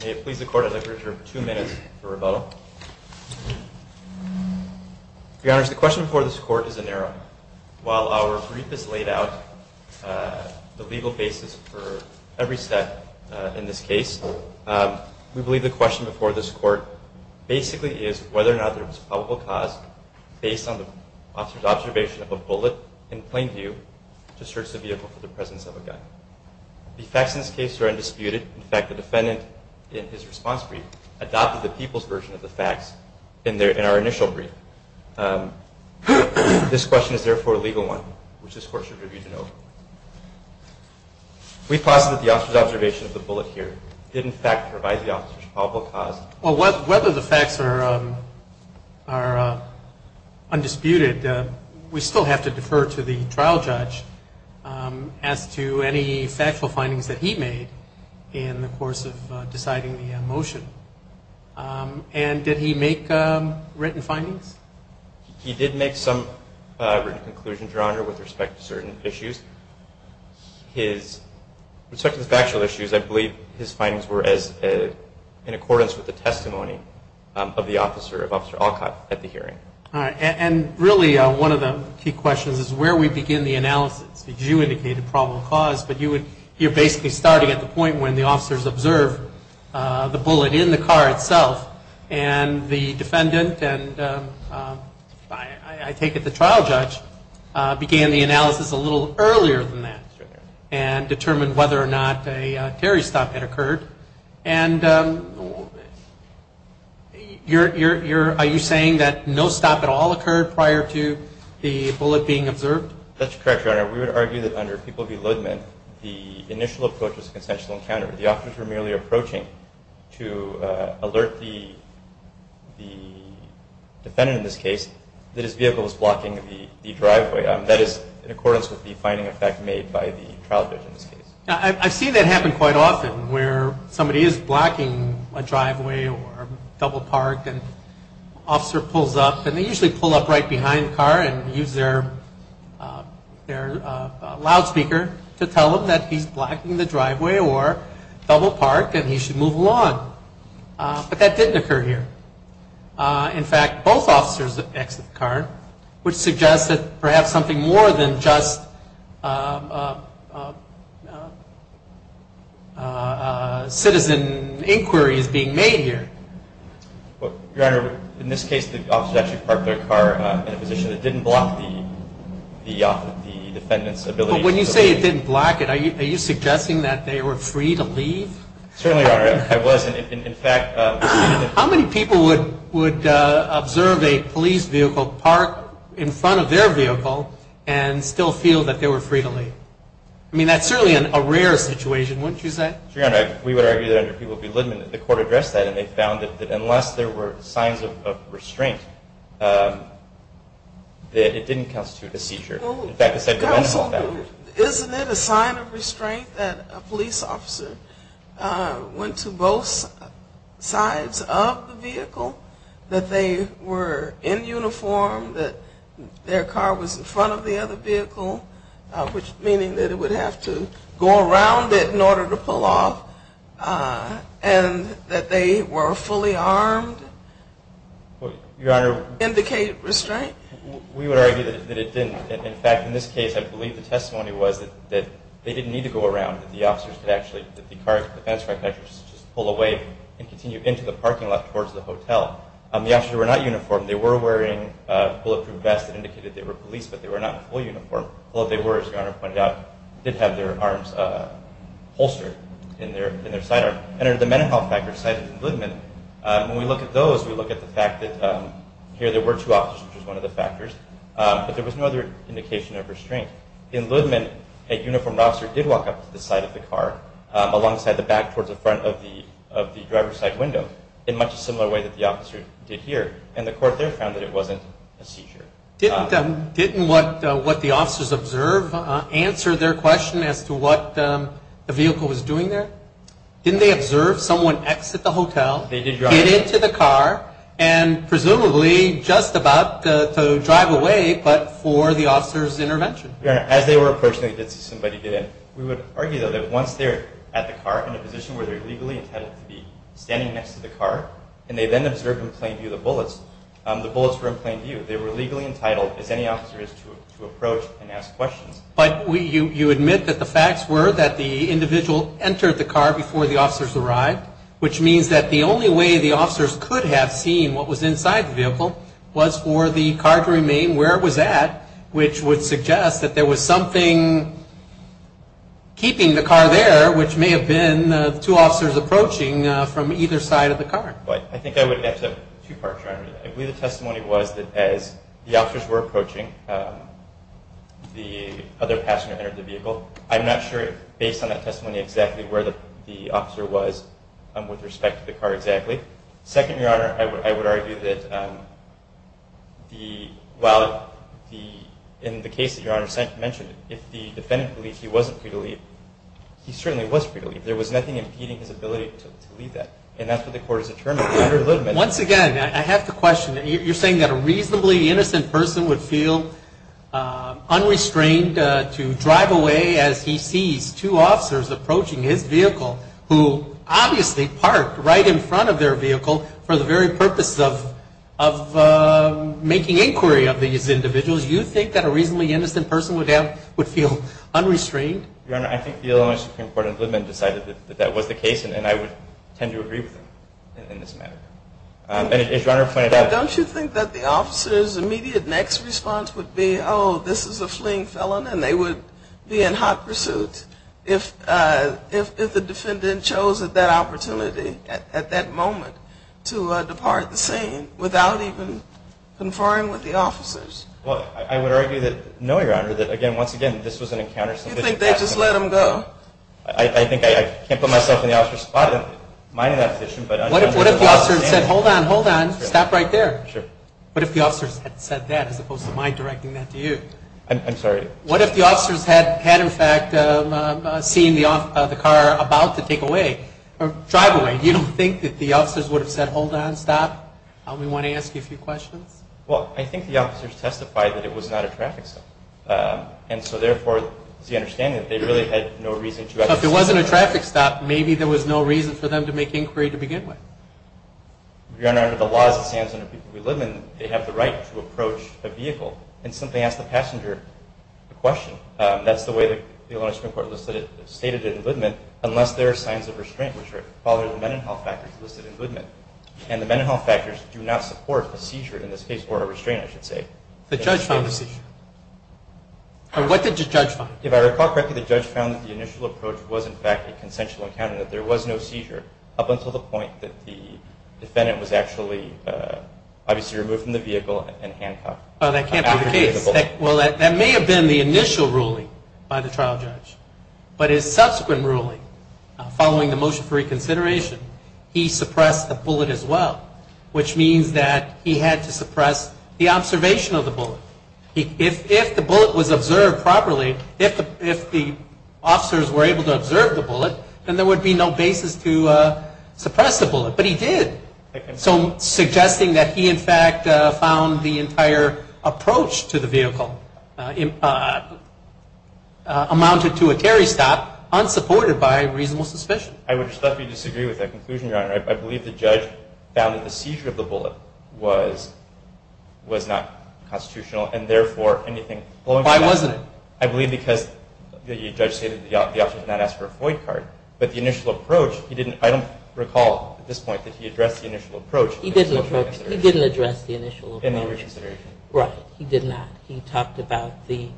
May it please the court, I'd like to reserve two minutes for rebuttal. Your Honor, the question before this court is a narrow one. While our brief has laid out the legal basis for every step in this case, we believe the question before this court basically is whether or not there was a probable cause based on the officer's observation of a bullet in plain view to search the vehicle for the presence of a gun. The facts in this case are undisputed. In fact, the defendant in his response brief adopted the people's version of the facts in our initial brief. This question is therefore a legal one, which this court should review to know. We posit that the officer's observation of the bullet here did in fact provide the officer's probable cause. Well, whether the facts are undisputed, we still have to defer to the trial judge as to any factual findings that he made in the course of deciding the motion. And did he make written findings? He did make some written conclusions, Your Honor, with respect to certain issues. With respect to the factual issues, I believe his findings were in accordance with the testimony of Officer Alcott at the hearing. All right. And really one of the key questions is where we begin the analysis. Because you indicated probable cause, but you're basically starting at the point when the officers observed the bullet in the car itself, and the defendant, and I take it the trial judge, began the analysis a little earlier than that and determined whether or not a Terry stop had occurred. And are you saying that no stop at all occurred prior to the bullet being observed? That's correct, Your Honor. We would argue that under People v. Ludman, the initial approach was a consensual encounter. The officers were merely approaching to alert the defendant in this case that his vehicle was blocking the driveway. That is in accordance with the finding effect made by the trial judge in this case. I've seen that happen quite often where somebody is blocking a driveway or a double park and an officer pulls up, and they usually pull up right behind the car and use their loudspeaker to tell them that he's blocking the driveway or double park and he should move along. But that didn't occur here. In fact, both officers exited the car, which suggests that perhaps something more than just citizen inquiry is being made here. Your Honor, in this case, the officers actually parked their car in a position that didn't block the defendant's ability to leave. But when you say it didn't block it, are you suggesting that they were free to leave? Certainly, Your Honor, I was. In fact, how many people would observe a police vehicle park in front of their vehicle and still feel that they were free to leave? I mean, that's certainly a rare situation, wouldn't you say? Your Honor, we would argue that under People v. Ludman, the court addressed that and they found that unless there were signs of restraint, that it didn't constitute a seizure. In fact, the sentencing found it. Isn't it a sign of restraint that a police officer went to both sides of the vehicle, that they were in uniform, that their car was in front of the other vehicle, meaning that it would have to go around it in order to pull off, and that they were fully armed? Your Honor. Indicate restraint? We would argue that it didn't. In fact, in this case, I believe the testimony was that they didn't need to go around, that the officers could actually, that the car's defense contractors could just pull away and continue into the parking lot towards the hotel. The officers were not uniformed. They were wearing bulletproof vests that indicated they were police, but they were not fully uniformed. Although they were, as Your Honor pointed out, did have their arms holstered in their sidearm. And under the mental health factors cited in Ludman, when we look at those, we look at the fact that here there were two officers, which was one of the factors, but there was no other indication of restraint. In Ludman, a uniformed officer did walk up to the side of the car alongside the back towards the front of the driver's side window in much a similar way that the officer did here, and the court there found that it wasn't a seizure. Didn't what the officers observed answer their question as to what the vehicle was doing there? Didn't they observe someone exit the hotel, get into the car, and presumably just about to drive away, but for the officer's intervention? Your Honor, as they were approaching, they did see somebody get in. We would argue, though, that once they're at the car, in a position where they're legally intended to be standing next to the car, and they then observed in plain view the bullets, the bullets were in plain view. They were legally entitled, as any officer is, to approach and ask questions. But you admit that the facts were that the individual entered the car before the officers arrived, which means that the only way the officers could have seen what was inside the vehicle was for the car to remain where it was at, which would suggest that there was something keeping the car there, which may have been two officers approaching from either side of the car. But I think I would add to that. Your Honor, I believe the testimony was that as the officers were approaching, the other passenger entered the vehicle. I'm not sure, based on that testimony, exactly where the officer was with respect to the car exactly. Second, Your Honor, I would argue that while in the case that Your Honor mentioned, if the defendant believes he wasn't free to leave, he certainly was free to leave. There was nothing impeding his ability to leave that, and that's what the court has determined. Once again, I have to question. You're saying that a reasonably innocent person would feel unrestrained to drive away as he sees two officers approaching his vehicle, who obviously parked right in front of their vehicle for the very purpose of making inquiry of these individuals. You think that a reasonably innocent person would feel unrestrained? Your Honor, I think the Illinois Supreme Court and Littman decided that that was the case, and I would tend to agree with them in this matter. And as Your Honor pointed out- Don't you think that the officer's immediate next response would be, oh, this is a fleeing felon, and they would be in hot pursuit if the defendant chose at that opportunity, at that moment, to depart the scene without even conferring with the officers? Well, I would argue that, no, Your Honor, that, again, once again, this was an encounter- You think they just let him go? Well, I think I can't put myself in the officer's spot in minding that position, but- What if the officer said, hold on, hold on, stop right there? Sure. What if the officers had said that as opposed to my directing that to you? I'm sorry? What if the officers had, in fact, seen the car about to take away, or drive away? You don't think that the officers would have said, hold on, stop? We want to ask you a few questions. Well, I think the officers testified that it was not a traffic stop, and so, therefore, it's the understanding that they really had no reason to- But if it wasn't a traffic stop, maybe there was no reason for them to make inquiry to begin with. Your Honor, under the laws that stands under the people we live in, they have the right to approach a vehicle and simply ask the passenger a question. That's the way the Alonzo Supreme Court stated it in Goodman, unless there are signs of restraint, which are the mental health factors listed in Goodman. And the mental health factors do not support a seizure in this case, or a restraint, I should say. The judge found a seizure. What did the judge find? If I recall correctly, the judge found that the initial approach was, in fact, a consensual encounter, that there was no seizure up until the point that the defendant was actually, obviously, removed from the vehicle and handcuffed. Oh, that can't be the case. Well, that may have been the initial ruling by the trial judge, but his subsequent ruling following the motion for reconsideration, he suppressed the bullet as well, which means that he had to suppress the observation of the bullet. If the bullet was observed properly, if the officers were able to observe the bullet, then there would be no basis to suppress the bullet. But he did. So suggesting that he, in fact, found the entire approach to the vehicle amounted to a carry stop, unsupported by reasonable suspicion. I would just like to disagree with that conclusion, Your Honor. I believe the judge found that the seizure of the bullet was not constitutional and, therefore, anything going forward. Why wasn't it? I believe because the judge stated the officer did not ask for a FOIA card. But the initial approach, I don't recall at this point that he addressed the initial approach. He didn't address the initial approach. In the reconsideration. Right. He did not. He talked about the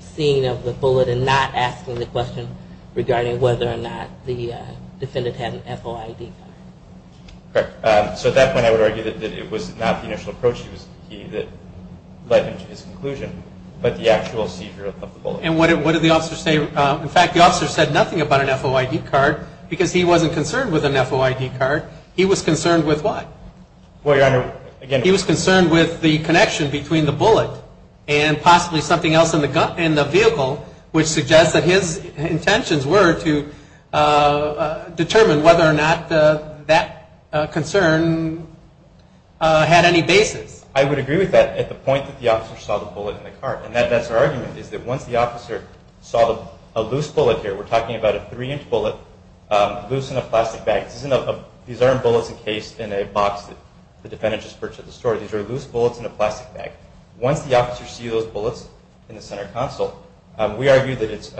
seeing of the bullet and not asking the question regarding whether or not the defendant had an FOIA card. Correct. So at that point, I would argue that it was not the initial approach that led him to his conclusion, but the actual seizure of the bullet. And what did the officer say? In fact, the officer said nothing about an FOIA card because he wasn't concerned with an FOIA card. He was concerned with what? Well, Your Honor, again. He was concerned with the connection between the bullet and possibly something else in the vehicle, which suggests that his intentions were to determine whether or not that concern had any basis. I would agree with that at the point that the officer saw the bullet in the car. And that's our argument, is that once the officer saw a loose bullet here, we're talking about a three-inch bullet, loose in a plastic bag. These aren't bullets encased in a box that the defendant just purchased at the store. These are loose bullets in a plastic bag. Once the officer sees those bullets in the center console, we argue that it's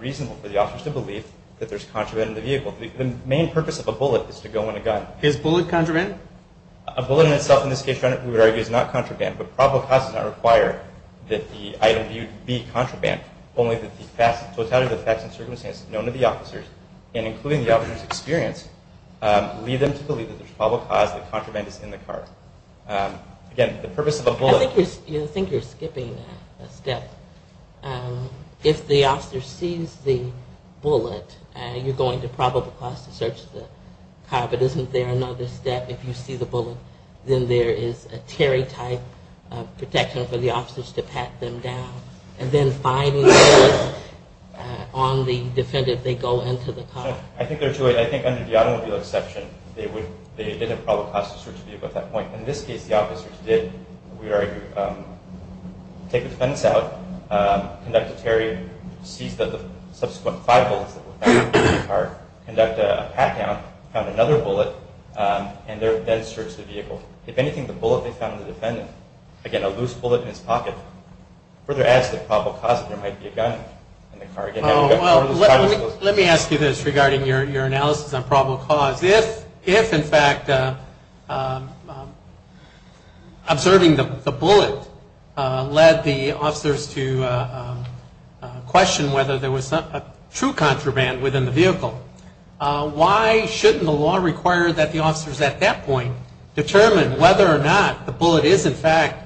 reasonable for the officers to believe that there's contraband in the vehicle. The main purpose of a bullet is to go in a gun. Is bullet contraband? A bullet in itself, in this case, Your Honor, we would argue is not contraband, but probable cause does not require that the item be contraband, only that the totality of the facts and circumstances known to the officers, and including the officer's experience, lead them to believe that there's probable cause that contraband is in the car. Again, the purpose of a bullet... I think you're skipping a step. If the officer sees the bullet, you're going to probable cause to search the car, but isn't there another step if you see the bullet, then there is a Terry-type protection for the officers to pat them down, and then finding the bullet on the defendant, they go into the car. I think there's a way, I think under the automobile exception, they did a probable cause to search the vehicle at that point. In this case, the officers did, we would argue, take the defense out, conduct a Terry, seize the subsequent five bullets that were found in the car, conduct a pat-down, found another bullet, and then searched the vehicle. If anything, the bullet they found on the defendant, again, a loose bullet in his pocket, further adds to the probable cause that there might be a gun in the car. Let me ask you this regarding your analysis on probable cause. If, in fact, observing the bullet led the officers to question whether there was a true contraband within the vehicle, why shouldn't the law require that the officers at that point determine whether or not the bullet is, in fact,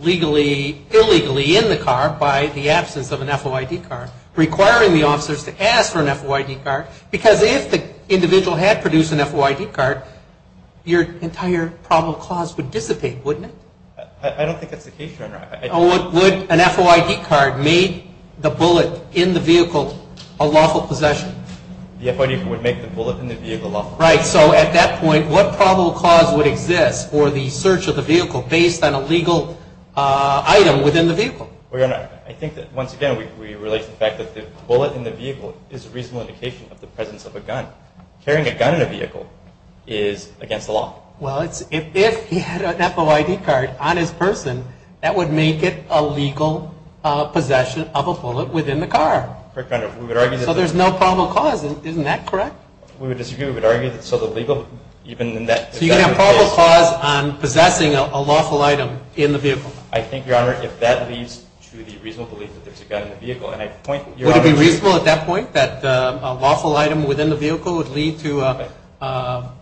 legally, illegally in the car by the absence of an FOID card, requiring the officers to ask for an FOID card? Because if the individual had produced an FOID card, your entire probable cause would dissipate, wouldn't it? I don't think that's the case, Your Honor. Would an FOID card make the bullet in the vehicle a lawful possession? The FOID card would make the bullet in the vehicle lawful. Right, so at that point, what probable cause would exist for the search of the vehicle based on a legal item within the vehicle? Your Honor, I think that, once again, we relate to the fact that the bullet in the vehicle is a reasonable indication of the presence of a gun. Carrying a gun in a vehicle is against the law. Well, if he had an FOID card on his person, that would make it a legal possession of a bullet within the car. Correct, Your Honor. So there's no probable cause, isn't that correct? We would disagree. We would argue that it's illegal, even in that particular case. So you can have probable cause on possessing a lawful item in the vehicle? I think, Your Honor, if that leads to the reasonable belief that there's a gun in the vehicle, and I point... Would it be reasonable at that point that a lawful item within the vehicle would lead to a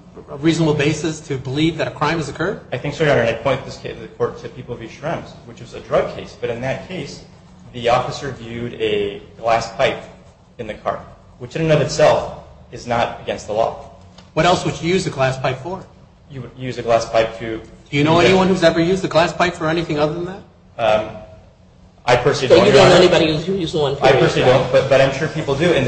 reasonable basis to believe that a crime has occurred? I think so, Your Honor, and I point to the court to People v. Shrems, which is a drug case. But in that case, the officer viewed a glass pipe in the car, which in and of itself is not against the law. What else would you use a glass pipe for? You would use a glass pipe to... Do you know anyone who's ever used a glass pipe for anything other than that? I personally don't, Your Honor. You don't know anybody who's used one, do you? I personally don't, but I'm sure people do. You're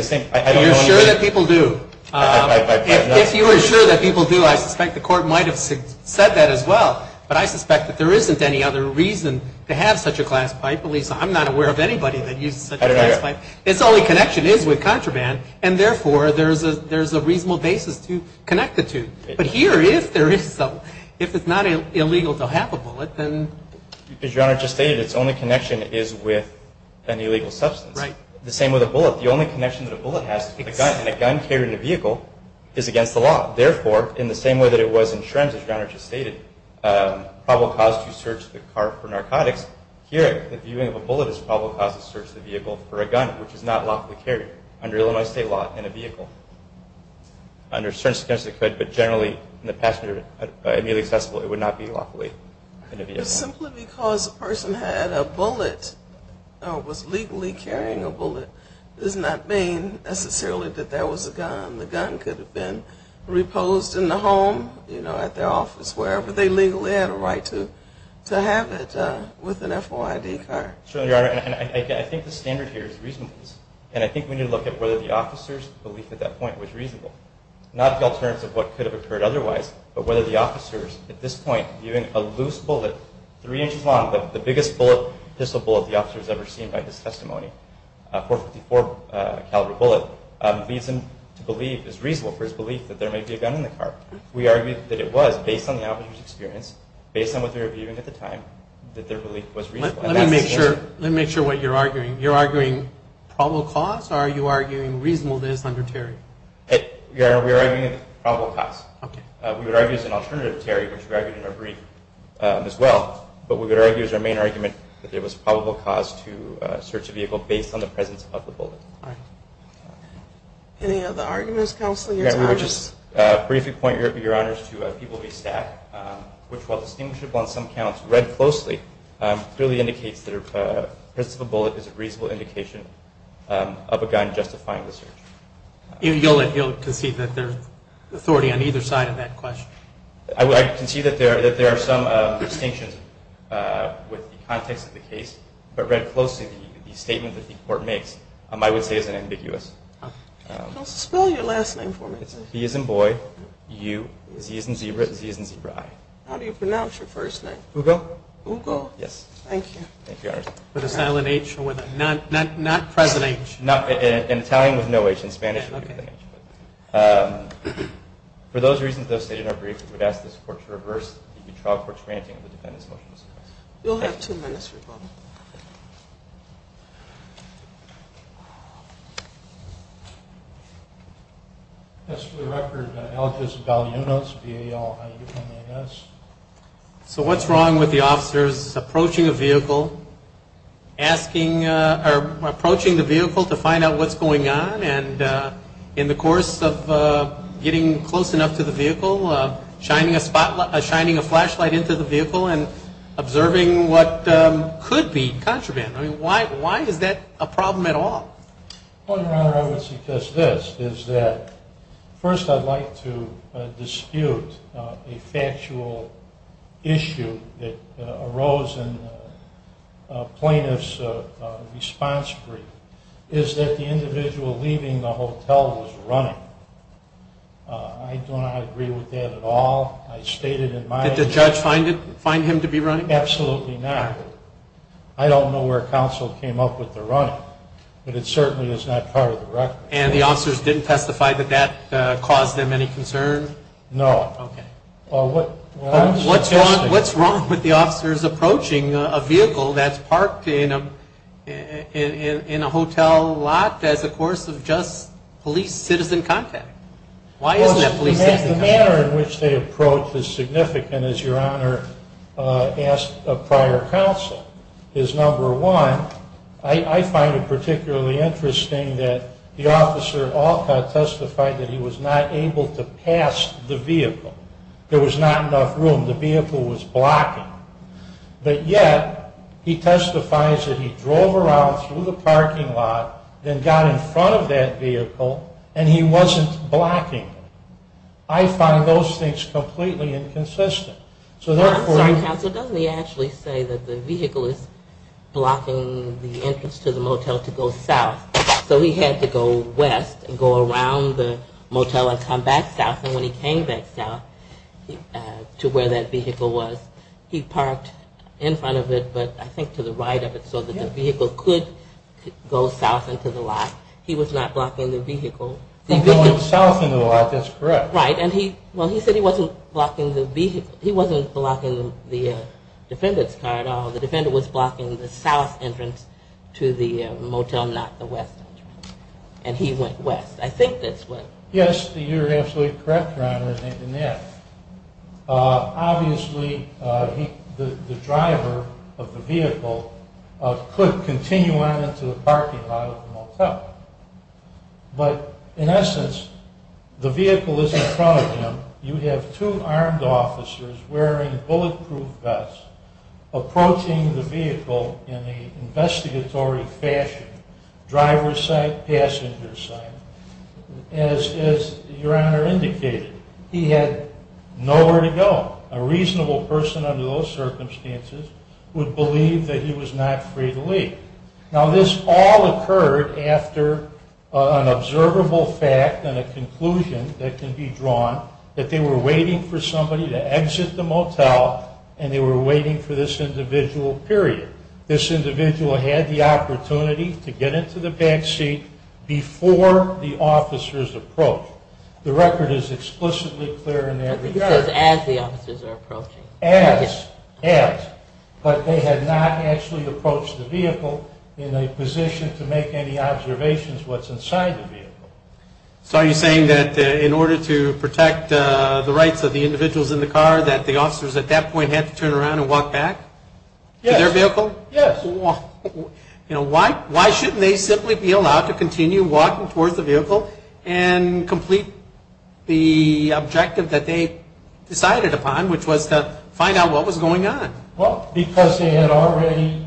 sure that people do? If you were sure that people do, I suspect the court might have said that as well. But I suspect that there isn't any other reason to have such a glass pipe. At least, I'm not aware of anybody that uses such a glass pipe. I don't either. Its only connection is with contraband, and therefore, there's a reasonable basis to connect the two. But here, if there is some, if it's not illegal to have a bullet, then... As Your Honor just stated, its only connection is with an illegal substance. Right. The same with a bullet. The only connection that a bullet has to a gun, and a gun carried in a vehicle, is against the law. Therefore, in the same way that it was in Shrems, as Your Honor just stated, a probable cause to search the car for narcotics, here, the viewing of a bullet is a probable cause to search the vehicle for a gun, which is not lawfully carried under Illinois state law in a vehicle. Under certain circumstances, it could, but generally, in the passenger immediately accessible, it would not be lawfully in a vehicle. Simply because a person had a bullet, or was legally carrying a bullet, does not mean, necessarily, that there was a gun. The gun could have been reposed in the home, you know, at their office, wherever they legally had a right to have it, with an FOID card. Certainly, Your Honor, and I think the standard here is reasonableness. And I think we need to look at whether the officer's belief at that point was reasonable. Not the alternative of what could have occurred otherwise, but whether the officer's, at this point, viewing a loose bullet, three inches long, but the biggest pistol bullet the officer's ever seen by his testimony, a .454 caliber bullet, leads him to believe, is reasonable for his belief, that there may be a gun in the car. We argue that it was, based on the officer's experience, based on what they were viewing at the time, that their belief was reasonable. Let me make sure what you're arguing. You're arguing probable cause, or are you arguing reasonableness under Terry? Your Honor, we are arguing a probable cause. Okay. We would argue as an alternative to Terry, which we argued in our brief, as well. But we would argue, as our main argument, that there was probable cause to search a vehicle based on the presence of the bullet. All right. Any other arguments, Counselor, Your Honor? Your Honor, we would just briefly point, Your Honors, to a People v. Stack, which, while distinguishable on some counts, read closely, clearly indicates that the presence of a bullet is a reasonable indication of a gun justifying the search. You'll concede that there's authority on either side of that question? I concede that there are some distinctions with the context of the case, but read closely, the statement that the court makes, I would say, is ambiguous. Counselor, spell your last name for me. It's B as in boy, U, Z as in zebra, Z as in zebra-eye. How do you pronounce your first name? Hugo. Hugo? Yes. Thank you. Thank you, Your Honor. With a silent H? Not present H? In Italian, with no H. In Spanish, with an H. For those reasons, as stated in our brief, we would ask this Court to reverse the trial court's granting of the defendant's motion to suppress. You'll have two minutes, Your Honor. As for the record, I'll just spell your notes, B-A-L-I-U-N-A-S. So what's wrong with the officers approaching a vehicle, asking or approaching the vehicle to find out what's going on, and in the course of getting close enough to the vehicle, shining a flashlight into the vehicle and observing what could be contraband? I mean, why is that a problem at all? Your Honor, I would suggest this, is that first I'd like to dispute a factual issue that arose in the plaintiff's response brief, is that the individual leaving the hotel was running. I do not agree with that at all. I stated in my opinion. Did the judge find him to be running? Absolutely not. I don't know where counsel came up with the running, but it certainly is not part of the record. And the officers didn't testify that that caused them any concern? No. Okay. What's wrong with the officers approaching a vehicle that's parked in a hotel lot as a course of just police-citizen contact? Why isn't that police-citizen contact? The manner in which they approach is significant, as Your Honor asked of prior counsel, is, number one, I find it particularly interesting that the officer, Alcott, testified that he was not able to pass the vehicle. There was not enough room. The vehicle was blocking. But yet he testifies that he drove around through the parking lot, then got in front of that vehicle, and he wasn't blocking it. I find those things completely inconsistent. I'm sorry, counsel, doesn't he actually say that the vehicle is blocking the entrance to the motel to go south? So he had to go west and go around the motel and come back south. And when he came back south to where that vehicle was, he parked in front of it, but I think to the right of it so that the vehicle could go south into the lot. He was not blocking the vehicle. He was going south into the lot. That's correct. Right. Well, he said he wasn't blocking the vehicle. He wasn't blocking the defendant's car at all. The defendant was blocking the south entrance to the motel, not the west entrance. And he went west. I think that's what. Yes, you're absolutely correct, Your Honor, in that. Obviously, the driver of the vehicle could continue on into the parking lot of the motel. But in essence, the vehicle isn't in front of him. You have two armed officers wearing bulletproof vests approaching the vehicle in an investigatory fashion, driver's side, passenger's side. As Your Honor indicated, he had nowhere to go. A reasonable person under those circumstances would believe that he was not free to leave. Now, this all occurred after an observable fact and a conclusion that can be drawn that they were waiting for somebody to exit the motel and they were waiting for this individual, period. This individual had the opportunity to get into the back seat before the officers approached. The record is explicitly clear in that regard. It says as the officers are approaching. As. Yes. But they had not actually approached the vehicle in a position to make any observations what's inside the vehicle. So are you saying that in order to protect the rights of the individuals in the car that the officers at that point had to turn around and walk back? Yes. To their vehicle? Yes. Why shouldn't they simply be allowed to continue walking towards the vehicle and complete the objective that they decided upon, which was to find out what was going on? Well, because they had already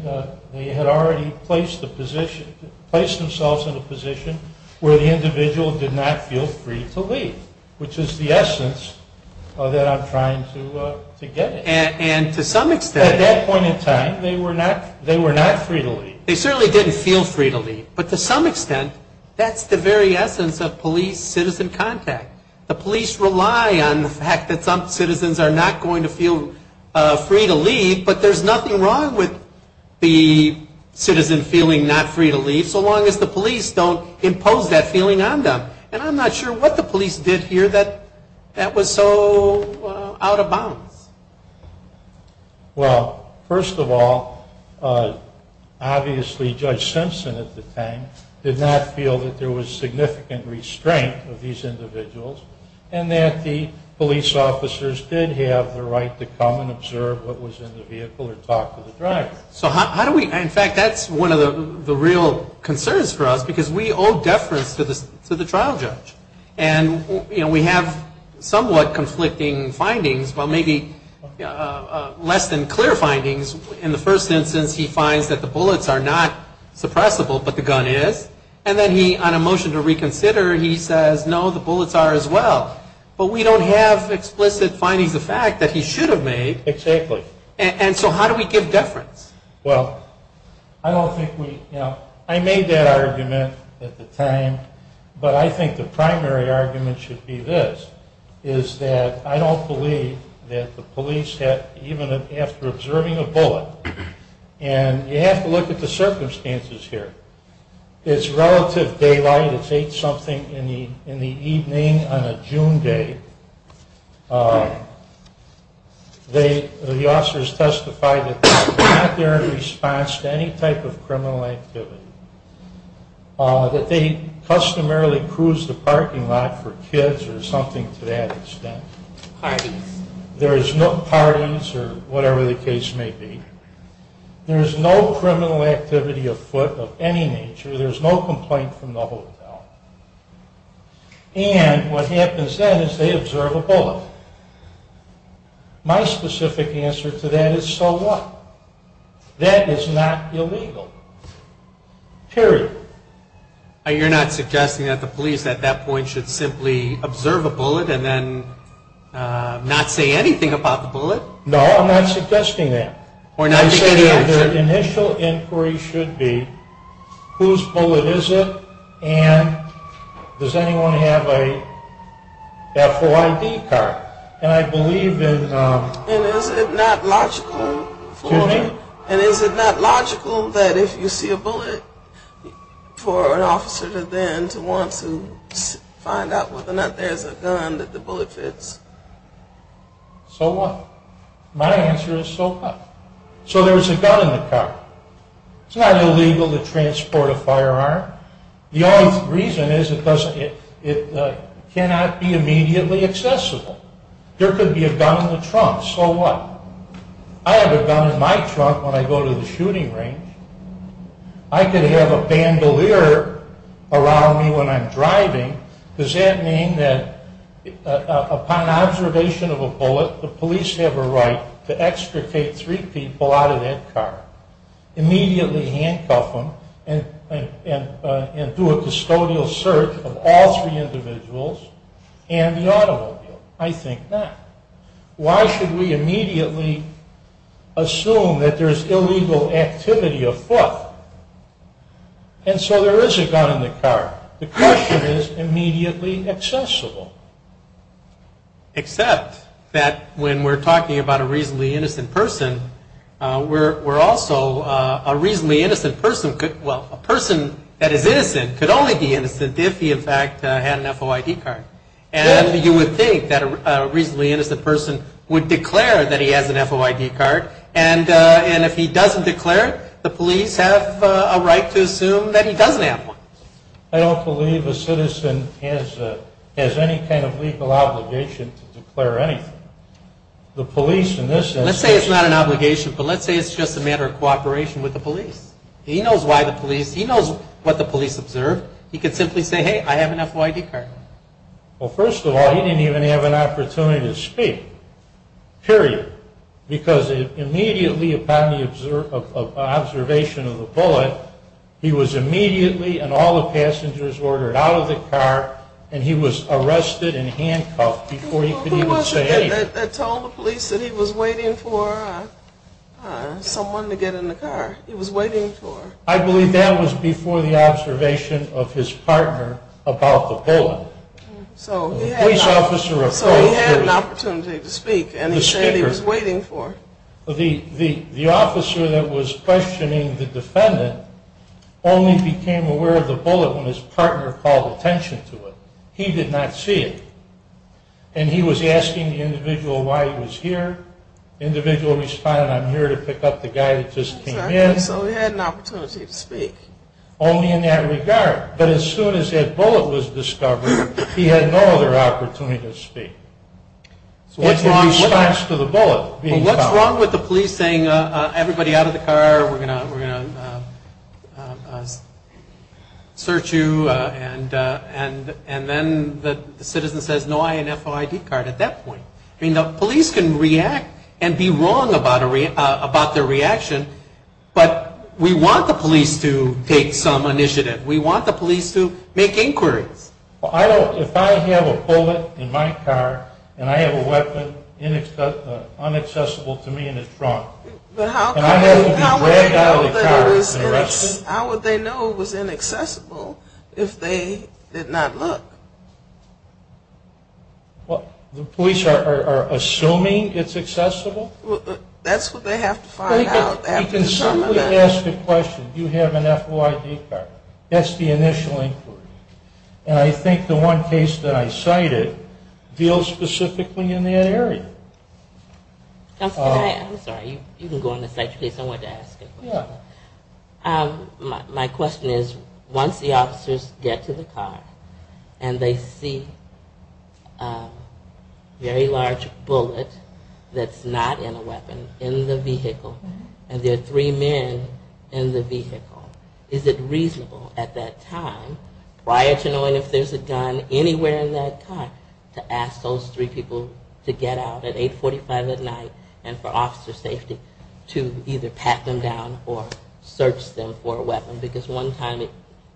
placed themselves in a position where the individual did not feel free to leave, which is the essence that I'm trying to get at. And to some extent. At that point in time, they were not free to leave. They certainly didn't feel free to leave. But to some extent, that's the very essence of police-citizen contact. The police rely on the fact that some citizens are not going to feel free to leave, but there's nothing wrong with the citizen feeling not free to leave, so long as the police don't impose that feeling on them. And I'm not sure what the police did here that was so out of bounds. Well, first of all, obviously Judge Simpson, at the time, did not feel that there was significant restraint of these individuals and that the police officers did have the right to come and observe what was in the vehicle or talk to the driver. In fact, that's one of the real concerns for us because we owe deference to the trial judge. And we have somewhat conflicting findings, well, maybe less than clear findings. In the first instance, he finds that the bullets are not suppressible, but the gun is. And then he, on a motion to reconsider, he says, no, the bullets are as well. But we don't have explicit findings of fact that he should have made. Exactly. And so how do we give deference? Well, I don't think we, you know, I made that argument at the time, but I think the primary argument should be this, is that I don't believe that the police had, even after observing a bullet, and you have to look at the circumstances here. It's relative daylight. It's eight-something in the evening on a June day. The officers testified that they were not there in response to any type of criminal activity, that they customarily cruised the parking lot for kids or something to that extent. Parties. There is no parties or whatever the case may be. There is no criminal activity afoot of any nature. There is no complaint from the hotel. And what happens then is they observe a bullet. My specific answer to that is, so what? That is not illegal, period. You're not suggesting that the police at that point should simply observe a bullet and then not say anything about the bullet? No, I'm not suggesting that. Or not say the answer? My initial inquiry should be, whose bullet is it, and does anyone have a FOID card? And is it not logical that if you see a bullet, for an officer to then want to find out whether or not there's a gun that the bullet fits? So what? My answer is, so what? So there's a gun in the car. It's not illegal to transport a firearm. The only reason is it cannot be immediately accessible. There could be a gun in the trunk. So what? I have a gun in my trunk when I go to the shooting range. I could have a bandolier around me when I'm driving. Does that mean that upon observation of a bullet, the police have a right to extricate three people out of that car, immediately handcuff them and do a custodial search of all three individuals and the automobile? I think not. Why should we immediately assume that there's illegal activity afoot? And so there is a gun in the car. The question is immediately accessible. Except that when we're talking about a reasonably innocent person, we're also a reasonably innocent person could, well, a person that is innocent could only be innocent if he, in fact, had an FOID card. And you would think that a reasonably innocent person would declare that he has an FOID card, and if he doesn't declare it, the police have a right to assume that he doesn't have one. I don't believe a citizen has any kind of legal obligation to declare anything. The police in this instance. Let's say it's not an obligation, but let's say it's just a matter of cooperation with the police. He knows why the police, he knows what the police observed. He could simply say, hey, I have an FOID card. Well, first of all, he didn't even have an opportunity to speak. Period. Because immediately upon the observation of the bullet, he was immediately and all the passengers were ordered out of the car, and he was arrested and handcuffed before he could even say anything. Who was it that told the police that he was waiting for someone to get in the car? He was waiting for. I believe that was before the observation of his partner about the bullet. So he had an opportunity to speak, and he said he was waiting for. The officer that was questioning the defendant only became aware of the bullet when his partner called attention to it. He did not see it. And he was asking the individual why he was here. The individual responded, I'm here to pick up the guy that just came in. So he had an opportunity to speak. Only in that regard. But as soon as that bullet was discovered, he had no other opportunity to speak. What's wrong with the police saying, everybody out of the car, we're going to search you, and then the citizen says no I.N.F.O.I.D. card at that point? I mean, the police can react and be wrong about their reaction, but we want the police to take some initiative. We want the police to make inquiries. If I have a bullet in my car and I have a weapon unaccessible to me in the trunk, how would they know it was inaccessible if they did not look? The police are assuming it's accessible? That's what they have to find out. You can certainly ask the question, do you have an F.O.I.D. card? That's the initial inquiry. And I think the one case that I cited deals specifically in that area. I'm sorry, you can go on the site please, I wanted to ask a question. My question is, once the officers get to the car and they see a very large bullet that's not in a weapon in the vehicle, and there are three men in the vehicle, is it reasonable at that time, prior to knowing if there's a gun anywhere in that car, to ask those three people to get out at 845 at night and for officer safety to either pat them down or search them for a weapon? Because one time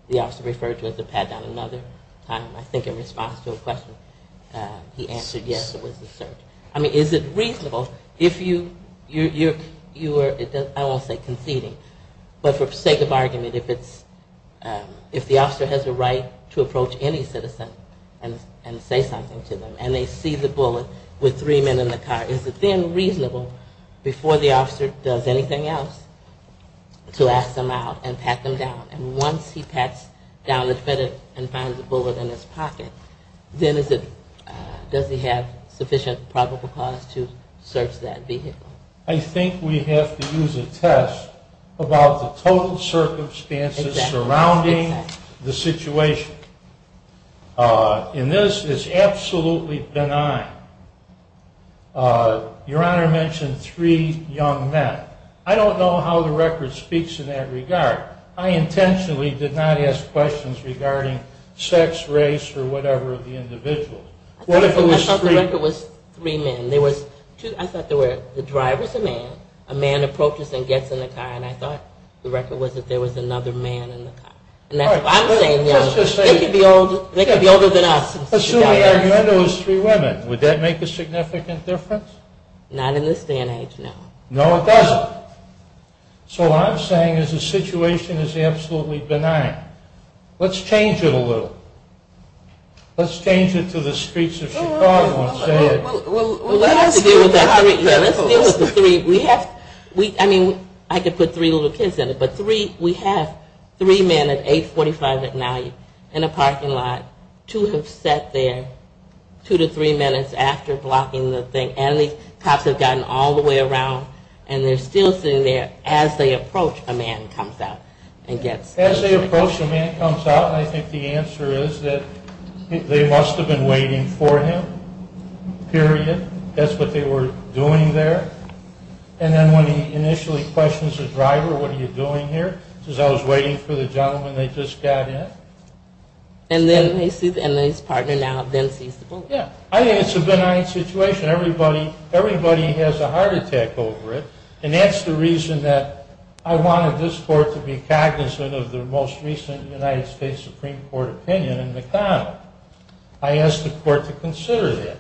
the officer referred to it as a pat down, another time I think in response to a question he answered yes, it was a search. I mean, is it reasonable? I won't say conceding, but for sake of argument, if the officer has a right to approach any citizen and say something to them and they see the bullet with three men in the car, is it then reasonable, before the officer does anything else, to ask them out and pat them down? And once he pats down and finds a bullet in his pocket, then does he have sufficient probable cause to search that vehicle? I think we have to use a test about the total circumstances surrounding the situation. And this is absolutely benign. Your Honor mentioned three young men. I don't know how the record speaks in that regard. I intentionally did not ask questions regarding sex, race, or whatever of the individual. I thought the record was three men. I thought the driver was a man, a man approaches and gets in the car, and I thought the record was that there was another man in the car. I'm saying they could be older than us. Assuming the argument was three women, would that make a significant difference? Not in this day and age, no. No, it doesn't. So what I'm saying is the situation is absolutely benign. Let's change it a little. Let's change it to the streets of Chicago. Let's deal with the three. I mean, I could put three little kids in it, but we have three men at 845 at night in a parking lot. Two have sat there two to three minutes after blocking the thing, and the cops have gotten all the way around, and they're still sitting there. As they approach, a man comes out. As they approach, a man comes out, and I think the answer is that they must have been waiting for him, period. That's what they were doing there. And then when he initially questions the driver, what are you doing here? He says, I was waiting for the gentleman that just got in. And then his partner now then sees the boy. Yeah, I think it's a benign situation. Everybody has a heart attack over it, And that's the reason that I wanted this court to be cognizant of the most recent United States Supreme Court opinion in McConnell. I asked the court to consider that.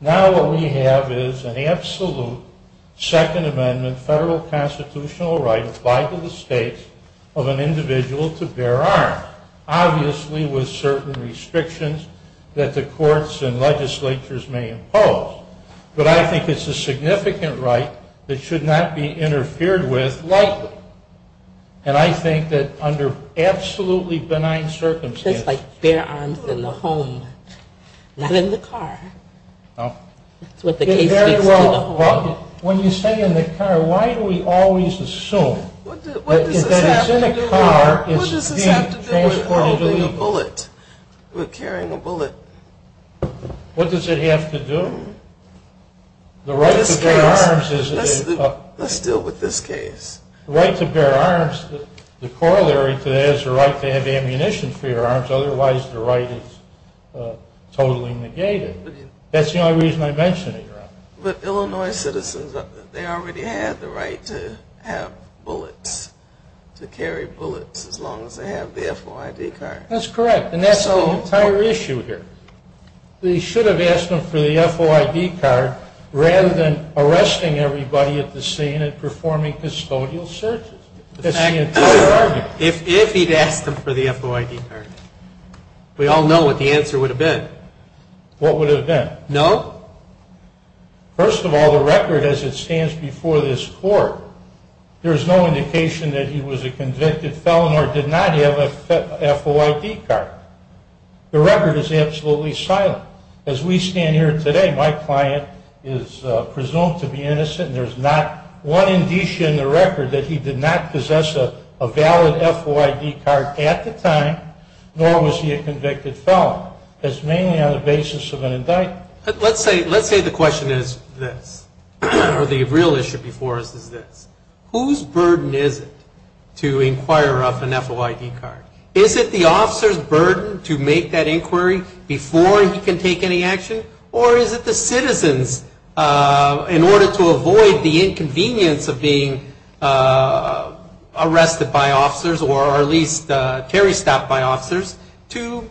Now what we have is an absolute Second Amendment federal constitutional right applied to the states of an individual to bear arms, obviously with certain restrictions that the courts and legislatures may impose. But I think it's a significant right that should not be interfered with lightly. And I think that under absolutely benign circumstances. It's like bear arms in the home, not in the car. No. That's what the case speaks to. When you say in the car, why do we always assume that if it's in a car, it's being transported illegally? What does this have to do with holding a bullet, with carrying a bullet? What does it have to do? Let's deal with this case. The right to bear arms, the corollary to that is the right to have ammunition for your arms. Otherwise, the right is totally negated. That's the only reason I mention it. But Illinois citizens, they already have the right to have bullets, to carry bullets as long as they have the FOID card. That's correct. And that's the entire issue here. They should have asked them for the FOID card rather than arresting everybody at the scene and performing custodial searches. That's the entire argument. If he'd asked them for the FOID card, we all know what the answer would have been. What would it have been? No. First of all, the record as it stands before this court, there is no indication that he was a convicted felon or did not have a FOID card. The record is absolutely silent. As we stand here today, my client is presumed to be innocent. There's not one indicia in the record that he did not possess a valid FOID card at the time, nor was he a convicted felon. It's mainly on the basis of an indictment. Let's say the question is this, or the real issue before us is this. Whose burden is it to inquire of an FOID card? Is it the officer's burden to make that inquiry before he can take any action, or is it the citizen's in order to avoid the inconvenience of being arrested by officers or at least terri-stopped by officers to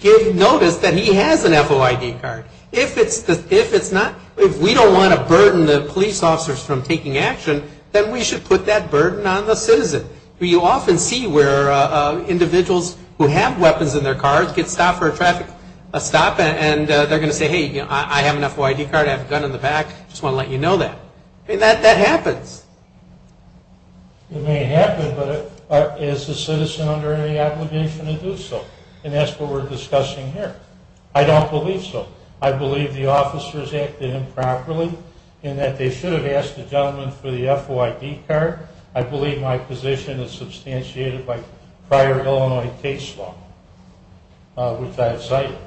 give notice that he has an FOID card? If we don't want to burden the police officers from taking action, then we should put that burden on the citizen. You often see where individuals who have weapons in their car get stopped for a traffic stop and they're going to say, hey, I have an FOID card. I have a gun in the back. I just want to let you know that. That happens. It may happen, but is the citizen under any obligation to do so? And that's what we're discussing here. I don't believe so. I believe the officers acted improperly in that they should have asked the gentleman for the FOID card. I believe my position is substantiated by prior Illinois case law, which I have cited.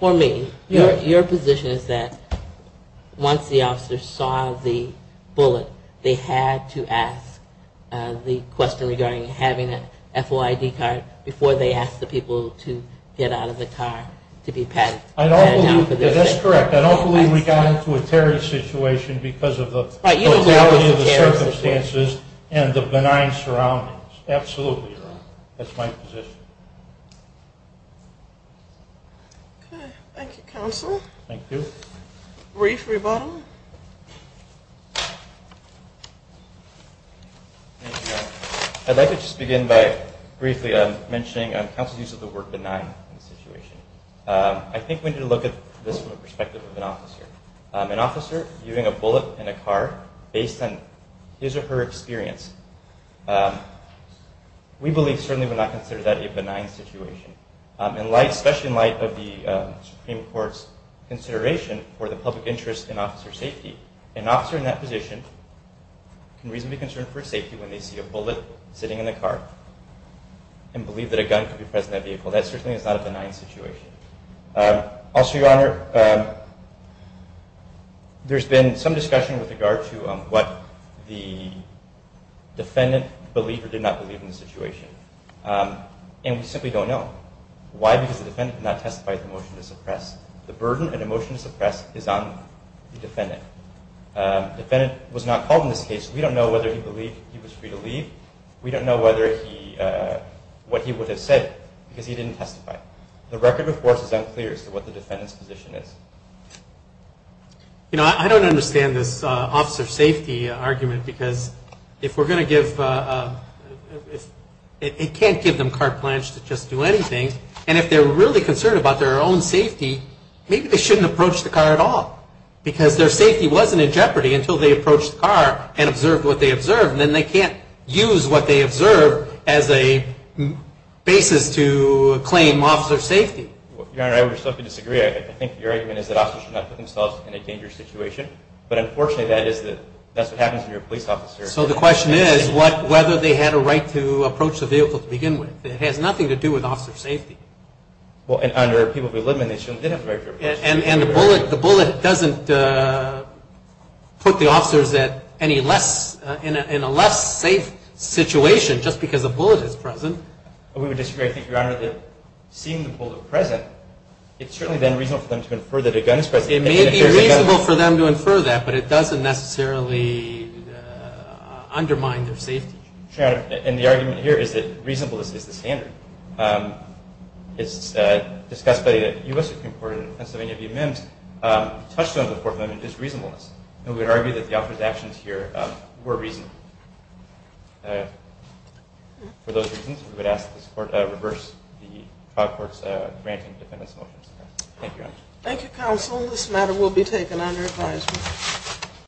For me, your position is that once the officers saw the bullet, they had to ask the question regarding having an FOID card before they asked the people to get out of the car to be patted down for this. That's correct. I don't believe we got into a terrorist situation because of the mortality of the circumstances and the benign surroundings. Absolutely, Your Honor. That's my position. Okay. Thank you, Counsel. Thank you. Brief rebuttal. I'd like to just begin by briefly mentioning counsel's use of the word benign in this situation. I think we need to look at this from the perspective of an officer. An officer using a bullet in a car based on his or her experience, we believe certainly would not consider that a benign situation. Especially in light of the Supreme Court's consideration for the public interest in officer safety, an officer in that position can reasonably be concerned for safety when they see a bullet sitting in a car and believe that a gun could be present in that vehicle. That certainly is not a benign situation. Also, Your Honor, there's been some discussion with regard to what the defendant believed or did not believe in the situation, and we simply don't know. Why? Because the defendant did not testify to the motion to suppress. The burden in a motion to suppress is on the defendant. The defendant was not called in this case. We don't know whether he believed he was free to leave. We don't know what he would have said because he didn't testify. The record, of course, is unclear as to what the defendant's position is. You know, I don't understand this officer safety argument because if we're going to give, it can't give them carte blanche to just do anything, and if they're really concerned about their own safety, maybe they shouldn't approach the car at all because their safety wasn't in jeopardy until they approached the car and observed what they observed, and then they can't use what they observed as a basis to claim officer safety. Your Honor, I would respectfully disagree. I think your argument is that officers should not put themselves in a dangerous situation, but unfortunately that's what happens when you're a police officer. So the question is whether they had a right to approach the vehicle to begin with. It has nothing to do with officer safety. Well, under people who live in the issue, they did have a right to approach the vehicle. And the bullet doesn't put the officers in a less safe situation just because a bullet is present. We would disagree. I think, Your Honor, that seeing the bullet present, it's certainly then reasonable for them to infer that a gun is present. It may be reasonable for them to infer that, but it doesn't necessarily undermine their safety. Your Honor, and the argument here is that reasonableness is the standard. It's discussed by the U.S. Supreme Court in Pennsylvania v. MIMS. The touchstone of the Fourth Amendment is reasonableness, and we would argue that the officers' actions here were reasonable. For those reasons, we would ask the Court to reverse the Cod Court's granting of defendants' motions. Thank you, Your Honor. Thank you, Counsel. This matter will be taken under advisement.